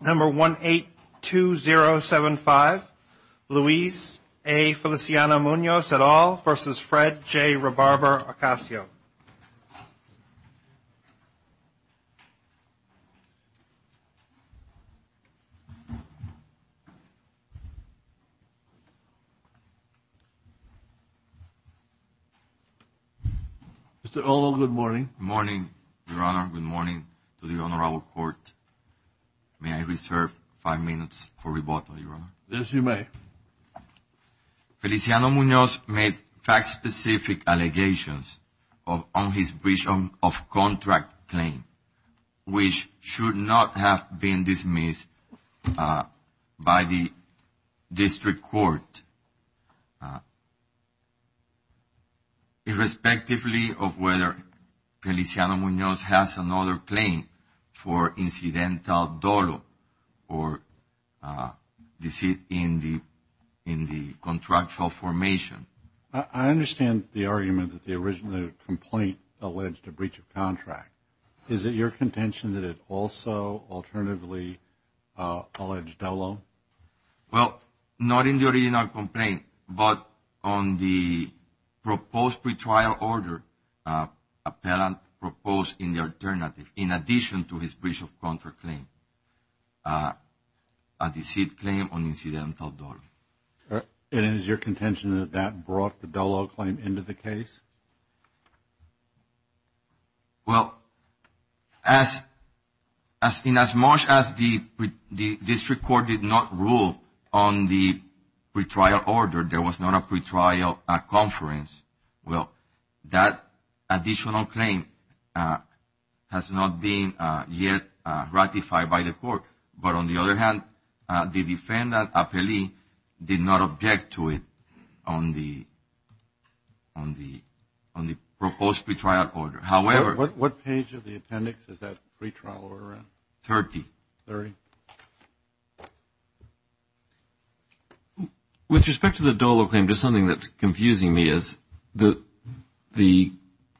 Number 182075, Luis A. Feliciano-Munoz et al. versus Fred J. Rebarber-Ocasio. Mr. Olo, good morning. Morning, Your Honor. Good morning to the Honorable Court. May I reserve five minutes for rebuttal, Your Honor? Yes, you may. Feliciano-Munoz made fact-specific allegations on his breach of contract claim, which should not have been dismissed by the district court, irrespective of whether Feliciano-Munoz has another claim for incidental dolo or deceit in the contractual formation. I understand the argument that the original complaint alleged a breach of contract. Is it your contention that it also alternatively alleged dolo? Well, not in the original complaint, but on the proposed pretrial order appellant proposed in the alternative, in addition to his breach of contract claim, a deceit claim on incidental dolo. And is your contention that that brought the dolo claim into the case? Well, inasmuch as the district court did not rule on the pretrial order, there was not a pretrial conference, well, that additional claim has not been yet ratified by the court. But on the other hand, the defendant appellee did not object to it on the proposed pretrial order. However, What page of the appendix is that pretrial order on? Thirty. Thirty. With respect to the dolo claim, just something that's confusing me is the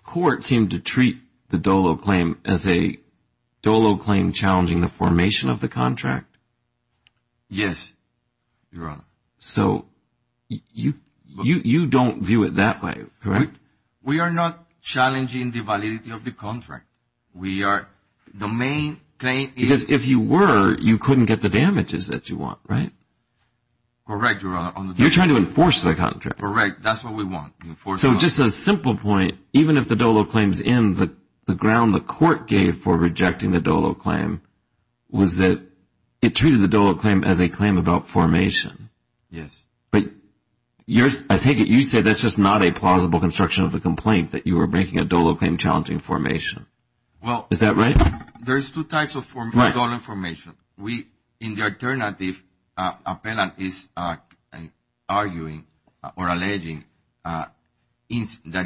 court seemed to treat the dolo claim as a dolo claim while challenging the formation of the contract. Yes, Your Honor. So you don't view it that way, correct? We are not challenging the validity of the contract. We are, the main claim is. Because if you were, you couldn't get the damages that you want, right? Correct, Your Honor. You're trying to enforce the contract. Correct, that's what we want. So just a simple point, even if the dolo claim is in, the ground the court gave for rejecting the dolo claim was that it treated the dolo claim as a claim about formation. Yes. But I take it you say that's just not a plausible construction of the complaint, that you were making a dolo claim challenging formation. Is that right? Well, there's two types of dolo formation. In the alternative, appellant is arguing or alleging that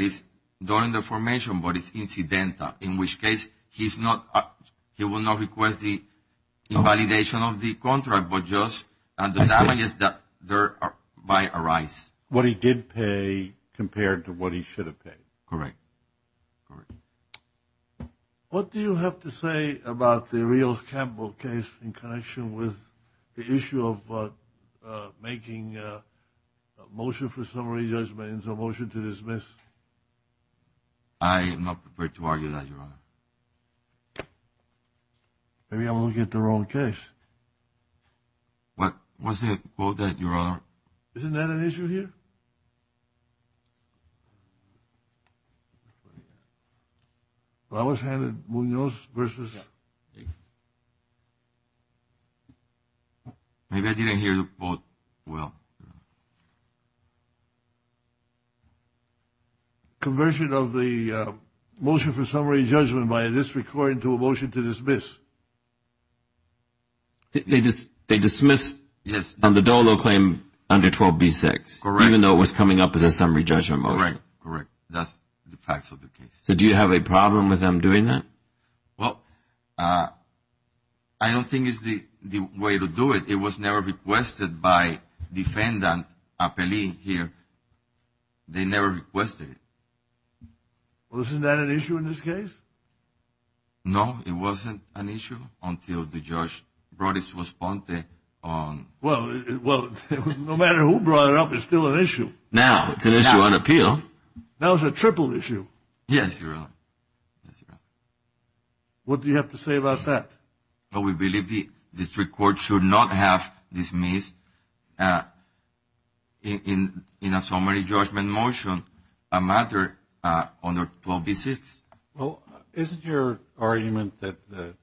it's during the formation, but it's incidental, in which case he will not request the invalidation of the contract, but just the damages that thereby arise. What he did pay compared to what he should have paid. Correct, correct. What do you have to say about the Rios-Campbell case in connection with the issue of making a motion for summary judgment and a motion to dismiss? I am not prepared to argue that, Your Honor. Maybe I'm looking at the wrong case. Isn't that an issue here? I was handed Munoz versus. Maybe I didn't hear the vote well. Conversion of the motion for summary judgment by this record into a motion to dismiss. They dismiss on the dolo claim under 12B6, even though it was coming up as a summary judgment motion. Correct, correct. That's the facts of the case. So do you have a problem with them doing that? Well, I don't think it's the way to do it. It was never requested by defendant appellee here. They never requested it. Wasn't that an issue in this case? No, it wasn't an issue until the judge brought it to us. Well, no matter who brought it up, it's still an issue. Now it's an issue on appeal. Now it's a triple issue. Yes, Your Honor. What do you have to say about that? We believe the district court should not have dismissed in a summary judgment motion a matter under 12B6. Well, isn't your argument that the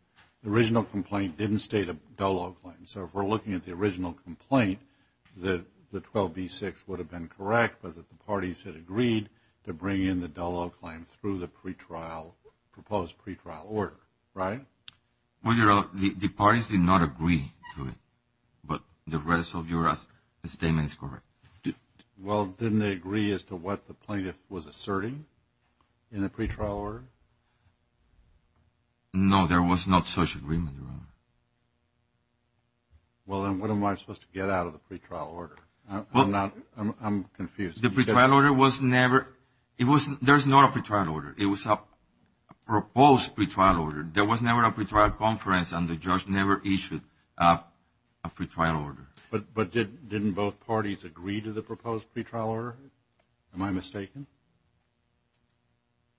original complaint didn't state a dolo claim? So if we're looking at the original complaint, that the 12B6 would have been correct, but that the parties had agreed to bring in the dolo claim through the pre-trial, proposed pre-trial order, right? Well, Your Honor, the parties did not agree to it, but the rest of your statement is correct. Well, didn't they agree as to what the plaintiff was asserting in the pre-trial order? No, there was not such agreement, Your Honor. Well, then what am I supposed to get out of the pre-trial order? I'm confused. The pre-trial order was never – there's not a pre-trial order. It was a proposed pre-trial order. There was never a pre-trial conference, and the judge never issued a pre-trial order. But didn't both parties agree to the proposed pre-trial order? Am I mistaken?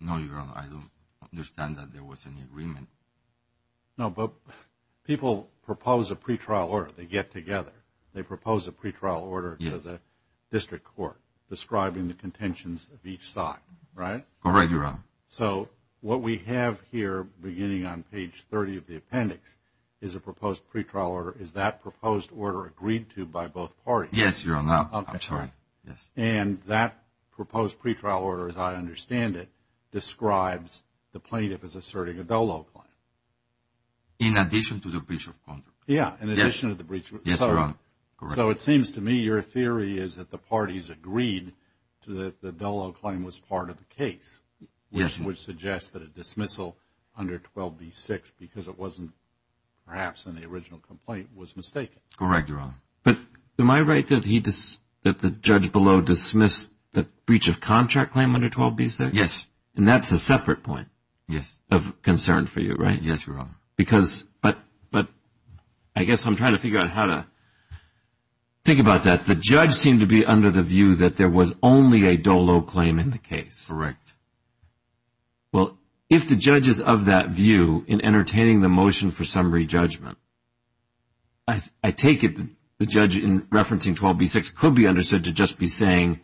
No, Your Honor, I don't understand that there was any agreement. No, but people propose a pre-trial order. They get together. They propose a pre-trial order as a district court, describing the contentions of each side, right? Correct, Your Honor. So what we have here, beginning on page 30 of the appendix, is a proposed pre-trial order. Is that proposed order agreed to by both parties? Yes, Your Honor. I'm sorry. And that proposed pre-trial order, as I understand it, describes the plaintiff as asserting a Dello claim. In addition to the breach of contract. Yeah, in addition to the breach of contract. Yes, Your Honor. So it seems to me your theory is that the parties agreed that the Dello claim was part of the case, which would suggest that a dismissal under 12B6, because it wasn't perhaps in the original complaint, was mistaken. Correct, Your Honor. But am I right that the judge below dismissed the breach of contract claim under 12B6? Yes. And that's a separate point of concern for you, right? Yes, Your Honor. But I guess I'm trying to figure out how to think about that. The judge seemed to be under the view that there was only a Dello claim in the case. Correct. Well, if the judge is of that view in entertaining the motion for summary judgment, I take it the judge in referencing 12B6 could be understood to just be saying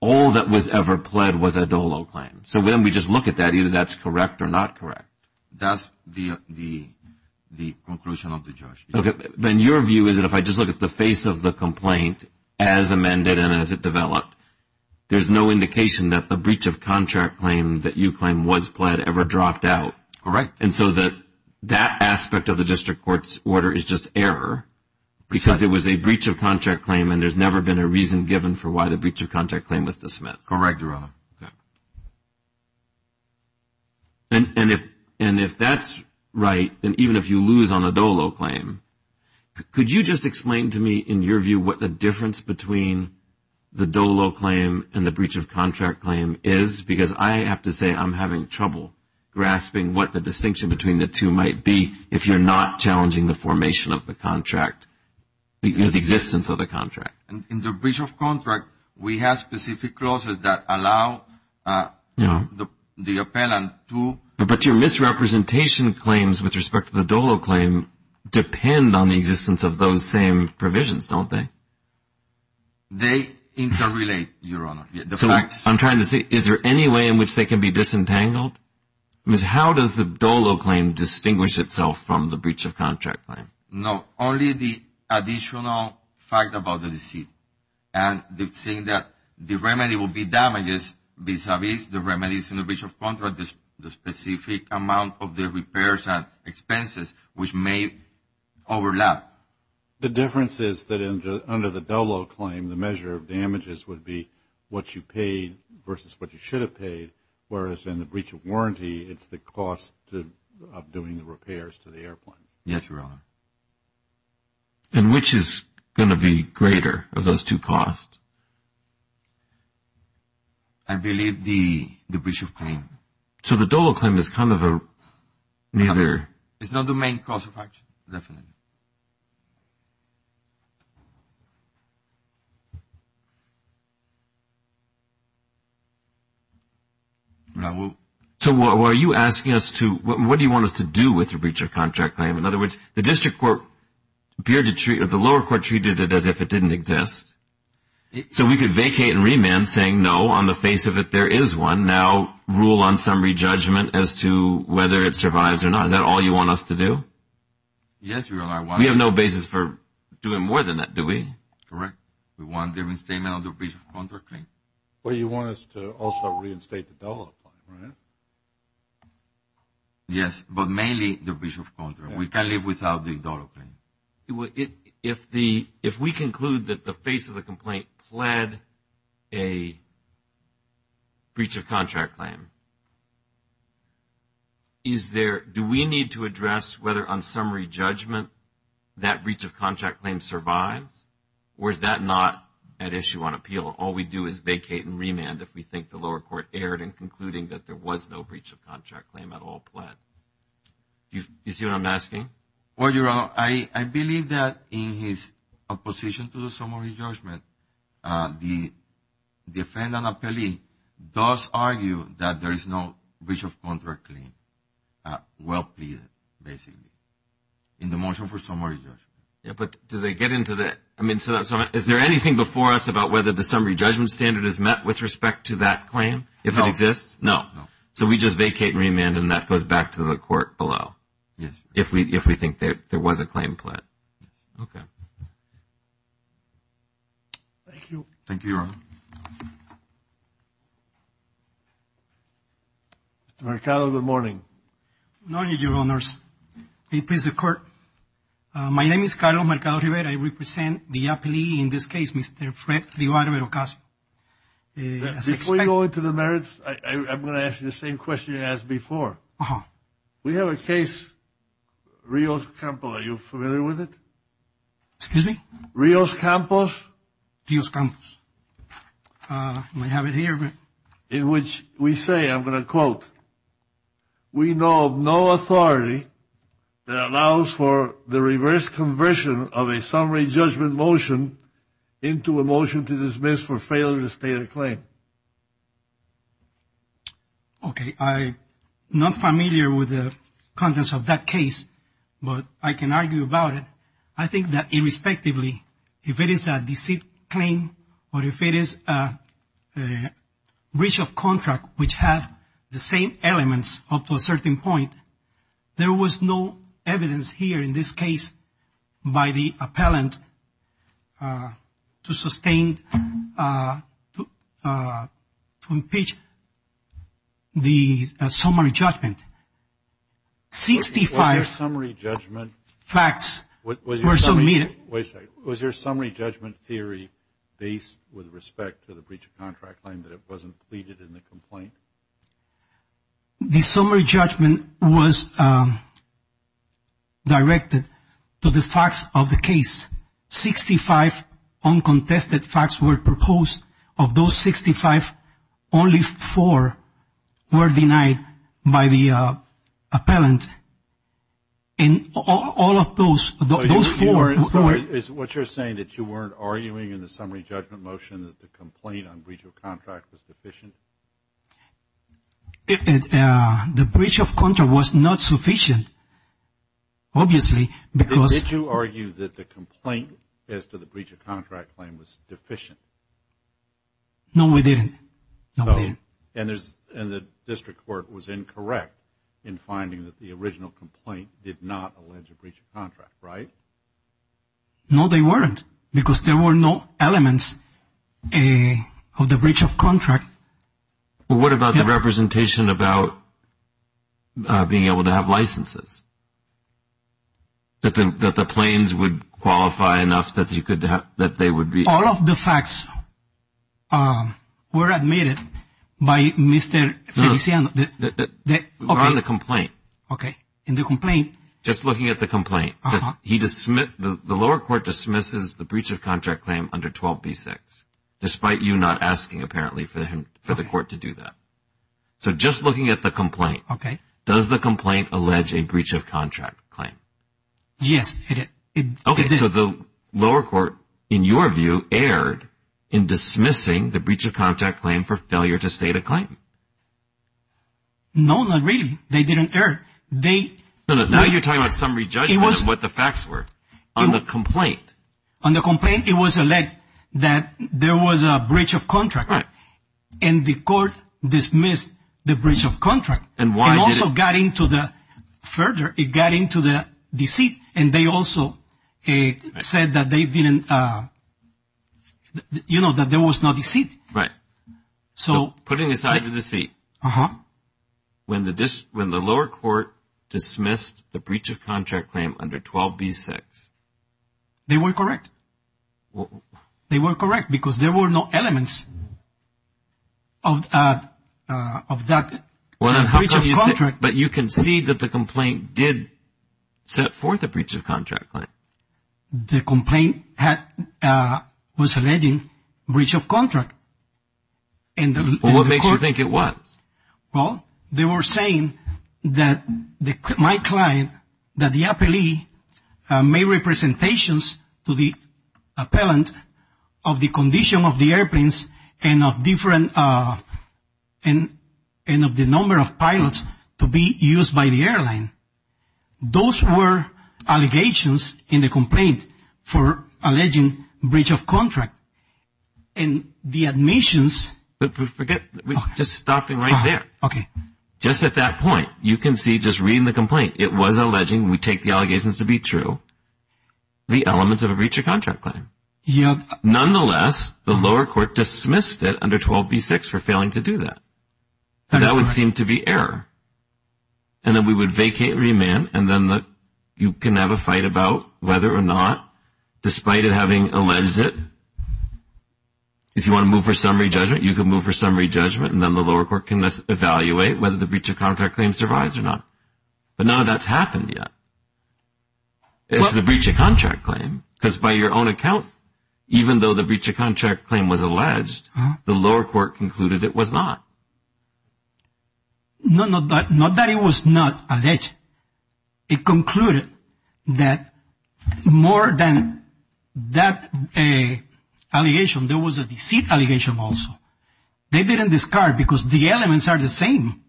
all that was ever pled was a Dello claim. So when we just look at that, either that's correct or not correct. That's the conclusion of the judge. Okay. Then your view is that if I just look at the face of the complaint as amended and as it developed, there's no indication that the breach of contract claim that you claim was pled ever dropped out. All right. And so that aspect of the district court's order is just error because it was a breach of contract claim and there's never been a reason given for why the breach of contract claim was dismissed. Correct, Your Honor. Okay. And if that's right, then even if you lose on a Dello claim, could you just explain to me in your view what the difference between the Dello claim and the breach of contract claim is? Because I have to say I'm having trouble grasping what the distinction between the two might be if you're not challenging the formation of the contract, the existence of the contract. In the breach of contract, we have specific clauses that allow the appellant to. But your misrepresentation claims with respect to the Dello claim depend on the existence of those same provisions, don't they? They interrelate, Your Honor. I'm trying to see is there any way in which they can be disentangled? How does the Dello claim distinguish itself from the breach of contract claim? No, only the additional fact about the deceit and the thing that the remedy will be damages vis-a-vis the remedies in the breach of contract, the specific amount of the repairs and expenses which may overlap. The difference is that under the Dello claim, the measure of damages would be what you paid versus what you should have paid, whereas in the breach of warranty, it's the cost of doing the repairs to the airplanes. Yes, Your Honor. And which is going to be greater of those two costs? I believe the breach of claim. So the Dello claim is kind of a neither... It's not the main cause of action, definitely. So are you asking us to, what do you want us to do with the breach of contract claim? In other words, the lower court treated it as if it didn't exist, so we could vacate and remand saying, no, on the face of it, there is one. Now, rule on summary judgment as to whether it survives or not. Is that all you want us to do? Yes, Your Honor. We have no basis for doing more than that, do we? Correct. We want a different statement on the breach of contract claim. Well, you want us to also reinstate the Dello claim, right? Yes, but mainly the breach of contract. We can't live without the Dello claim. If we conclude that the face of the complaint pled a breach of contract claim, do we need to address whether on summary judgment that breach of contract claim survives? Or is that not at issue on appeal? All we do is vacate and remand if we think the lower court erred in concluding that there was no breach of contract claim at all pled. Do you see what I'm asking? Well, Your Honor, I believe that in his opposition to the summary judgment, the defendant appellee does argue that there is no breach of contract claim well pleaded, basically, in the motion for summary judgment. But do they get into that? Is there anything before us about whether the summary judgment standard is met with respect to that claim, if it exists? No. So we just vacate and remand, and that goes back to the court below if we think there was a claim pled. Okay. Thank you. Thank you, Your Honor. Mr. Mercado, good morning. Good morning, Your Honors. May it please the Court. My name is Carlos Mercado-Rivera. I represent the appellee in this case, Mr. Fred Rivar-Verocassi. Before we go into the merits, I'm going to ask you the same question you asked before. We have a case, Rios-Campos, are you familiar with it? Excuse me? Rios-Campos. Rios-Campos. We have it here. In which we say, I'm going to quote, we know of no authority that allows for the reverse conversion of a summary judgment motion into a motion to dismiss for failure to state a claim. Okay. I'm not familiar with the contents of that case, but I can argue about it. I think that irrespectively, if it is a deceit claim or if it is breach of contract, which have the same elements up to a certain point, there was no evidence here in this case by the appellant to sustain, to impeach the summary judgment. Sixty-five facts were submitted. Wait a second. Was your summary judgment theory based with respect to the breach of contract claim that it wasn't pleaded in the complaint? The summary judgment was directed to the facts of the case. Sixty-five uncontested facts were proposed. Of those 65, only four were denied by the appellant. And all of those, those four. Is what you're saying that you weren't arguing in the summary judgment motion that the complaint on breach of contract was deficient? The breach of contract was not sufficient, obviously, because. Did you argue that the complaint as to the breach of contract claim was deficient? No, we didn't. And the district court was incorrect in finding that the original complaint did not allege a breach of contract, right? No, they weren't, because there were no elements of the breach of contract. What about the representation about being able to have licenses? That the claims would qualify enough that they would be. All of the facts were admitted by Mr. Feliciano. On the complaint. Okay. In the complaint. Just looking at the complaint. The lower court dismisses the breach of contract claim under 12b-6. Despite you not asking, apparently, for the court to do that. So just looking at the complaint. Okay. Does the complaint allege a breach of contract claim? Yes. Okay. So the lower court, in your view, erred in dismissing the breach of contract claim for failure to state a claim. No, not really. They didn't err. Now you're talking about summary judgment of what the facts were. On the complaint. On the complaint, it was alleged that there was a breach of contract. Right. And the court dismissed the breach of contract. And why did it? And also got into the, further, it got into the deceit, and they also said that they didn't, you know, that there was no deceit. Right. So. Putting aside the deceit. Uh-huh. When the lower court dismissed the breach of contract claim under 12b-6. They were correct. They were correct because there were no elements of that breach of contract. But you can see that the complaint did set forth a breach of contract claim. The complaint was alleging breach of contract. Well, what makes you think it was? Well, they were saying that my client, that the appellee made representations to the appellant of the condition of the airplanes and of different, and of the number of pilots to be used by the airline. Those were allegations in the complaint for alleging breach of contract. And the admissions. Forget, just stopping right there. Okay. Just at that point, you can see, just reading the complaint, it was alleging, we take the allegations to be true, the elements of a breach of contract claim. Yeah. Nonetheless, the lower court dismissed it under 12b-6 for failing to do that. That is correct. That would seem to be error. And then we would vacate remand, and then you can have a fight about whether or not, despite it having alleged it, if you want to move for summary judgment, you can move for summary judgment, and then the lower court can evaluate whether the breach of contract claim survives or not. But none of that's happened yet. It's the breach of contract claim, because by your own account, even though the breach of contract claim was alleged, the lower court concluded it was not. No, not that it was not alleged. It concluded that more than that allegation, there was a deceit allegation also. They didn't discard, because the elements are the same.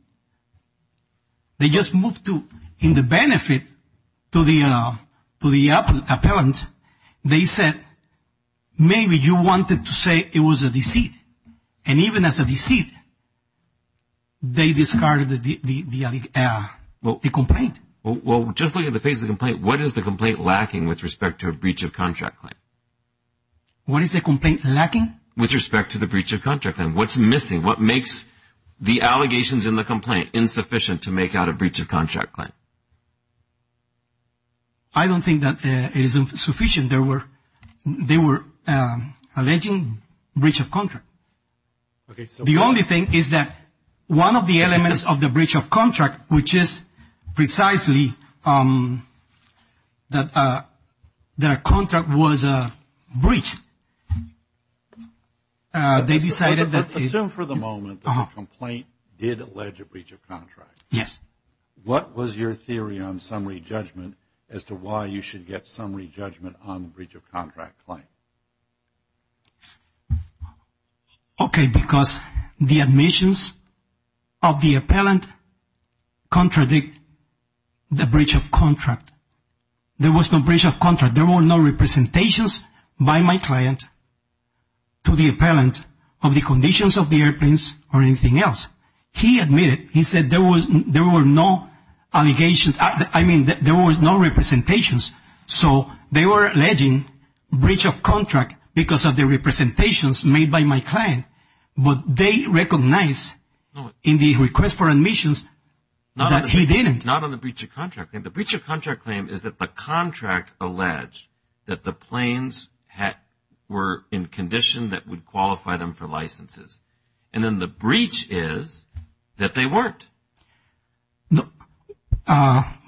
They just moved to, in the benefit to the appellant, they said, maybe you wanted to say it was a deceit. And even as a deceit, they discarded the complaint. Well, just look at the face of the complaint. What is the complaint lacking with respect to a breach of contract claim? What is the complaint lacking? With respect to the breach of contract claim. What's missing? What makes the allegations in the complaint insufficient to make out a breach of contract claim? I don't think that it is insufficient. They were alleging breach of contract. The only thing is that one of the elements of the breach of contract, which is precisely that a contract was breached, they decided that. Assume for the moment that the complaint did allege a breach of contract. Yes. What was your theory on summary judgment as to why you should get summary judgment on the breach of contract claim? Okay, because the admissions of the appellant contradict the breach of contract. There was no breach of contract. But there were no representations by my client to the appellant of the conditions of the airplanes or anything else. He admitted. He said there were no allegations. I mean, there was no representations. So they were alleging breach of contract because of the representations made by my client. But they recognized in the request for admissions that he didn't. Not on the breach of contract. The breach of contract claim is that the contract alleged that the planes were in condition that would qualify them for licenses. And then the breach is that they weren't.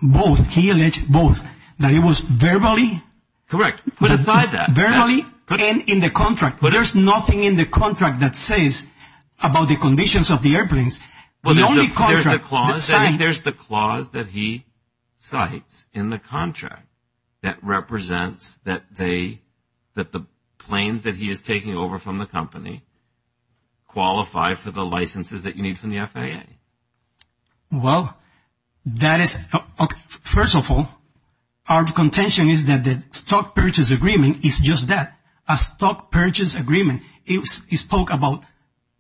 Both. He alleged both. That it was verbally. Correct. Put aside that. Verbally and in the contract. But there's nothing in the contract that says about the conditions of the airplanes. There's the clause that he cites in the contract that represents that they, that the planes that he is taking over from the company qualify for the licenses that you need from the FAA. Well, that is, first of all, our contention is that the stock purchase agreement is just that. A stock purchase agreement. He spoke about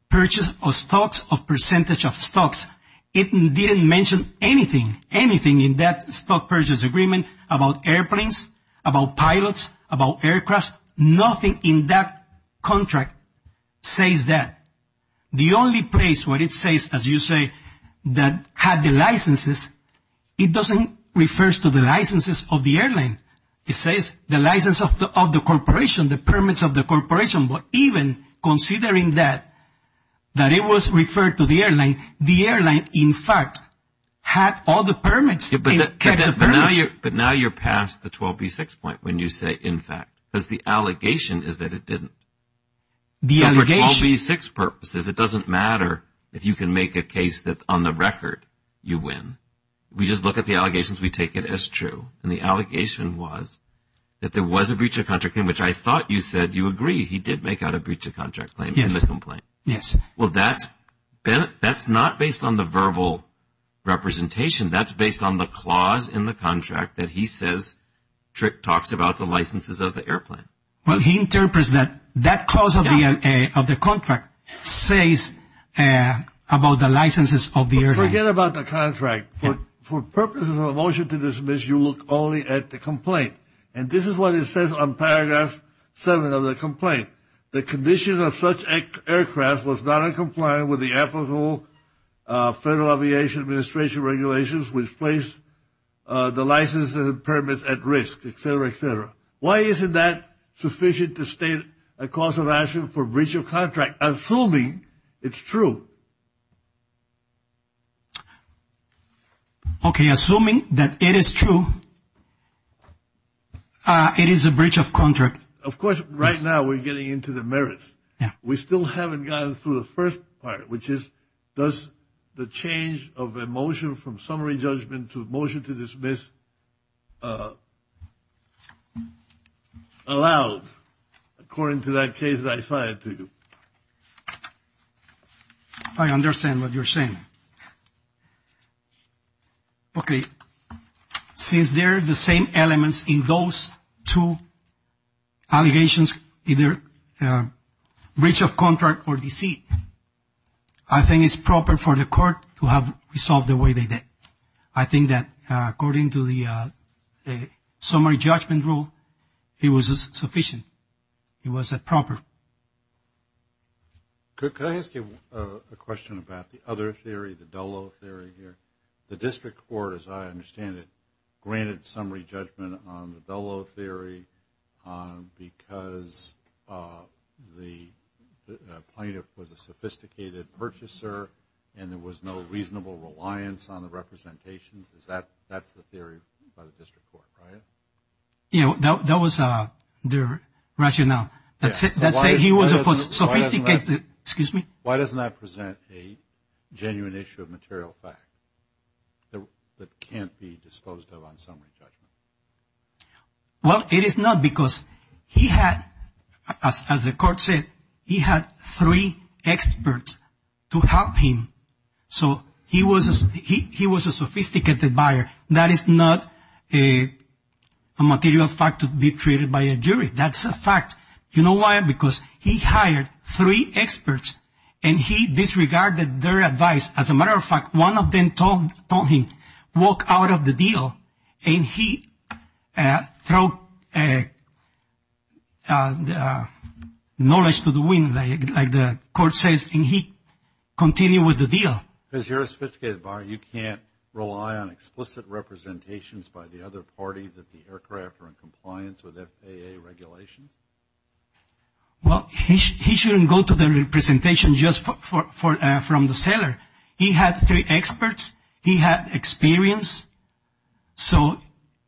purchase of stocks, of percentage of stocks. It didn't mention anything, anything in that stock purchase agreement about airplanes, about pilots, about aircrafts. Nothing in that contract says that. The only place where it says, as you say, that had the licenses, it doesn't refer to the licenses of the airline. It says the license of the corporation, the permits of the corporation. But even considering that, that it was referred to the airline, the airline, in fact, had all the permits. But now you're past the 12B6 point when you say in fact. Because the allegation is that it didn't. The allegation. So for 12B6 purposes, it doesn't matter if you can make a case that on the record you win. We just look at the allegations, we take it as true. And the allegation was that there was a breach of contract, in which I thought you said you agree. He did make out a breach of contract claim in the complaint. Yes. Well, that's not based on the verbal representation. That's based on the clause in the contract that he says Trick talks about the licenses of the airplane. Well, he interprets that that clause of the contract says about the licenses of the airplane. Forget about the contract. For purposes of a motion to dismiss, you look only at the complaint. And this is what it says on Paragraph 7 of the complaint. The condition of such aircraft was not in compliance with the applicable Federal Aviation Administration regulations, which place the licenses and permits at risk, et cetera, et cetera. Why isn't that sufficient to state a cause of action for breach of contract, assuming it's true? Okay, assuming that it is true, it is a breach of contract. Of course, right now we're getting into the merits. We still haven't gotten through the first part, which is does the change of a motion from summary judgment to a motion to dismiss allowed, according to that case that I cited to you? I understand what you're saying. Okay. Since they're the same elements in those two allegations, either breach of contract or deceit, I think it's proper for the court to have resolved the way they did. I think that according to the summary judgment rule, it was sufficient. It was proper. Could I ask you a question about the other theory, the DELO theory here? The district court, as I understand it, granted summary judgment on the DELO theory because the plaintiff was a sophisticated purchaser and there was no reasonable reliance on the representations. That's the theory by the district court, right? That was their rationale. Why doesn't that present a genuine issue of material fact that can't be disposed of on summary judgment? Well, it is not because he had, as the court said, he had three experts to help him. So he was a sophisticated buyer. That is not a material fact to be treated by a jury. That's a fact. You know why? Because he hired three experts and he disregarded their advice. As a matter of fact, one of them told him, walk out of the deal, and he threw knowledge to the wind, like the court says, and he continued with the deal. Because you're a sophisticated buyer, you can't rely on explicit representations by the other party that the aircraft are in compliance with FAA regulations? Well, he shouldn't go to the representation just from the seller. He had three experts. He had experience. So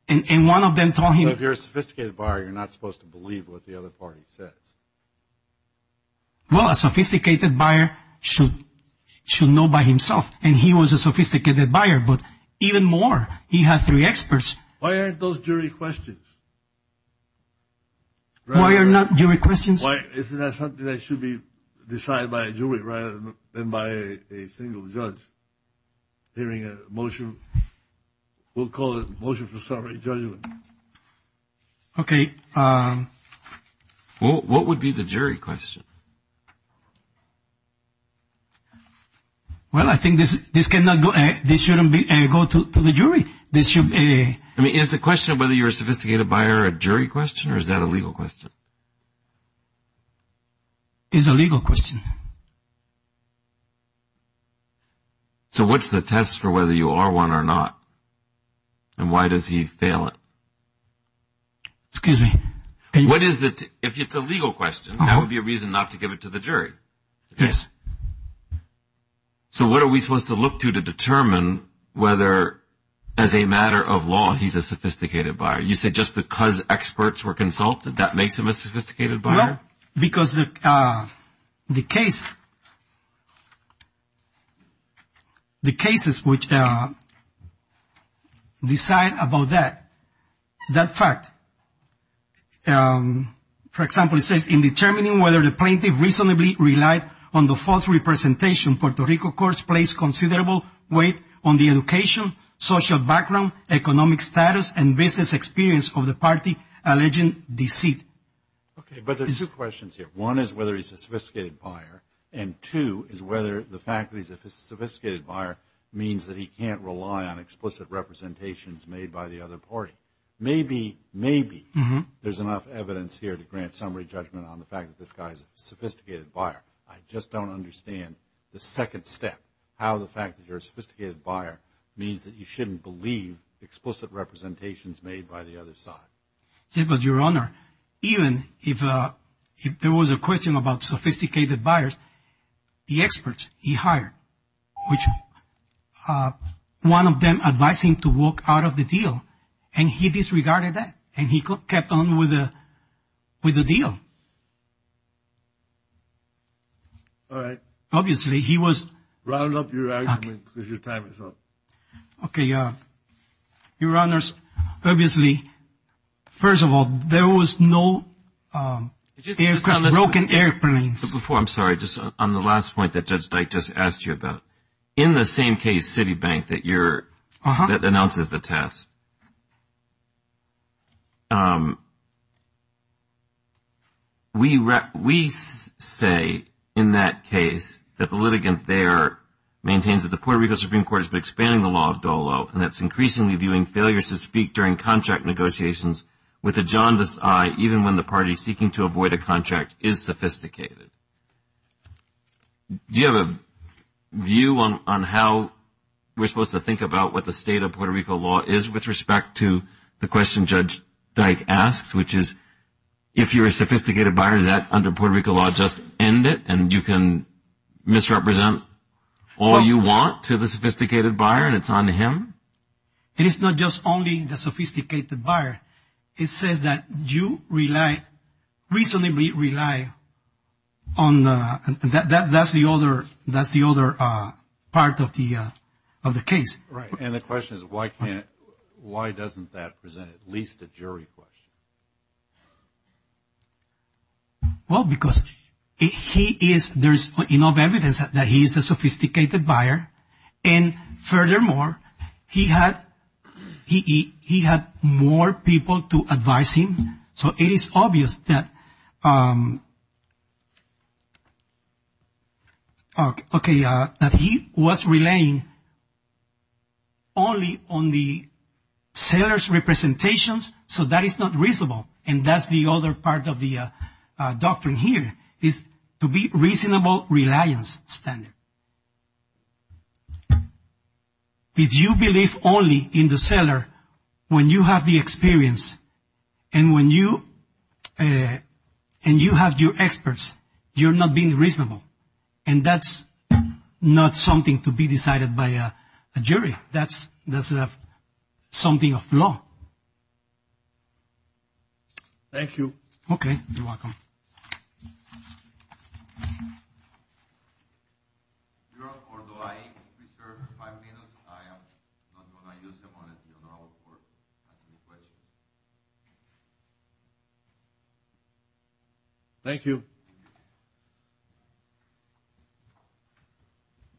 and one of them told him. So if you're a sophisticated buyer, you're not supposed to believe what the other party says. Well, a sophisticated buyer should know by himself, and he was a sophisticated buyer. But even more, he had three experts. Why aren't those jury questions? Why are not jury questions? Isn't that something that should be decided by a jury rather than by a single judge hearing a motion? We'll call it a motion for summary judgment. Okay. What would be the jury question? Well, I think this shouldn't go to the jury. I mean, is the question of whether you're a sophisticated buyer a jury question, or is that a legal question? It's a legal question. So what's the test for whether you are one or not, and why does he fail it? Excuse me? If it's a legal question, that would be a reason not to give it to the jury. Yes. So what are we supposed to look to to determine whether, as a matter of law, he's a sophisticated buyer? You said just because experts were consulted, that makes him a sophisticated buyer? Well, because the case, the cases which decide about that, that fact, for example, it says in determining whether the plaintiff reasonably relied on the false representation, Puerto Rico courts placed considerable weight on the education, social background, economic status, and business experience of the party alleging deceit. Okay, but there's two questions here. One is whether he's a sophisticated buyer, and two is whether the fact that he's a sophisticated buyer means that he can't rely on explicit representations made by the other party. Maybe, maybe there's enough evidence here to grant summary judgment on the fact that this guy's a sophisticated buyer. I just don't understand the second step, how the fact that you're a sophisticated buyer means that you shouldn't believe explicit representations made by the other side. Yes, but, Your Honor, even if there was a question about sophisticated buyers, the experts he hired, which one of them advised him to walk out of the deal, and he disregarded that, and he kept on with the deal. All right. Obviously, he was. Round up your argument because your time is up. Okay, Your Honors, obviously, first of all, there was no broken airplanes. Before, I'm sorry, just on the last point that Judge Dyke just asked you about, in the same case, Citibank, that announces the test, we say in that case that the litigant there maintains that the Puerto Rico Supreme Court has been expanding the law of dolo, and that's increasingly viewing failures to speak during contract negotiations with a jaundiced eye, even when the party seeking to avoid a contract is sophisticated. Do you have a view on how we're supposed to think about what the state of Puerto Rico law is with respect to the question Judge Dyke asks, which is if you're a sophisticated buyer, does that under Puerto Rico law just end it, and you can misrepresent all you want to the sophisticated buyer, and it's on to him? It is not just only the sophisticated buyer. It says that you reasonably rely on the other part of the case. Right, and the question is why doesn't that present at least a jury question? Well, because there's enough evidence that he's a sophisticated buyer, and furthermore, he had more people to advise him, so it is obvious that he was relying only on the seller's representations, so that is not reasonable, and that's the other part of the doctrine here is to be reasonable reliance standard. If you believe only in the seller when you have the experience and you have your experts, you're not being reasonable, and that's not something to be decided by a jury. That's something of law. Okay, you're welcome. Thank you. Thank you.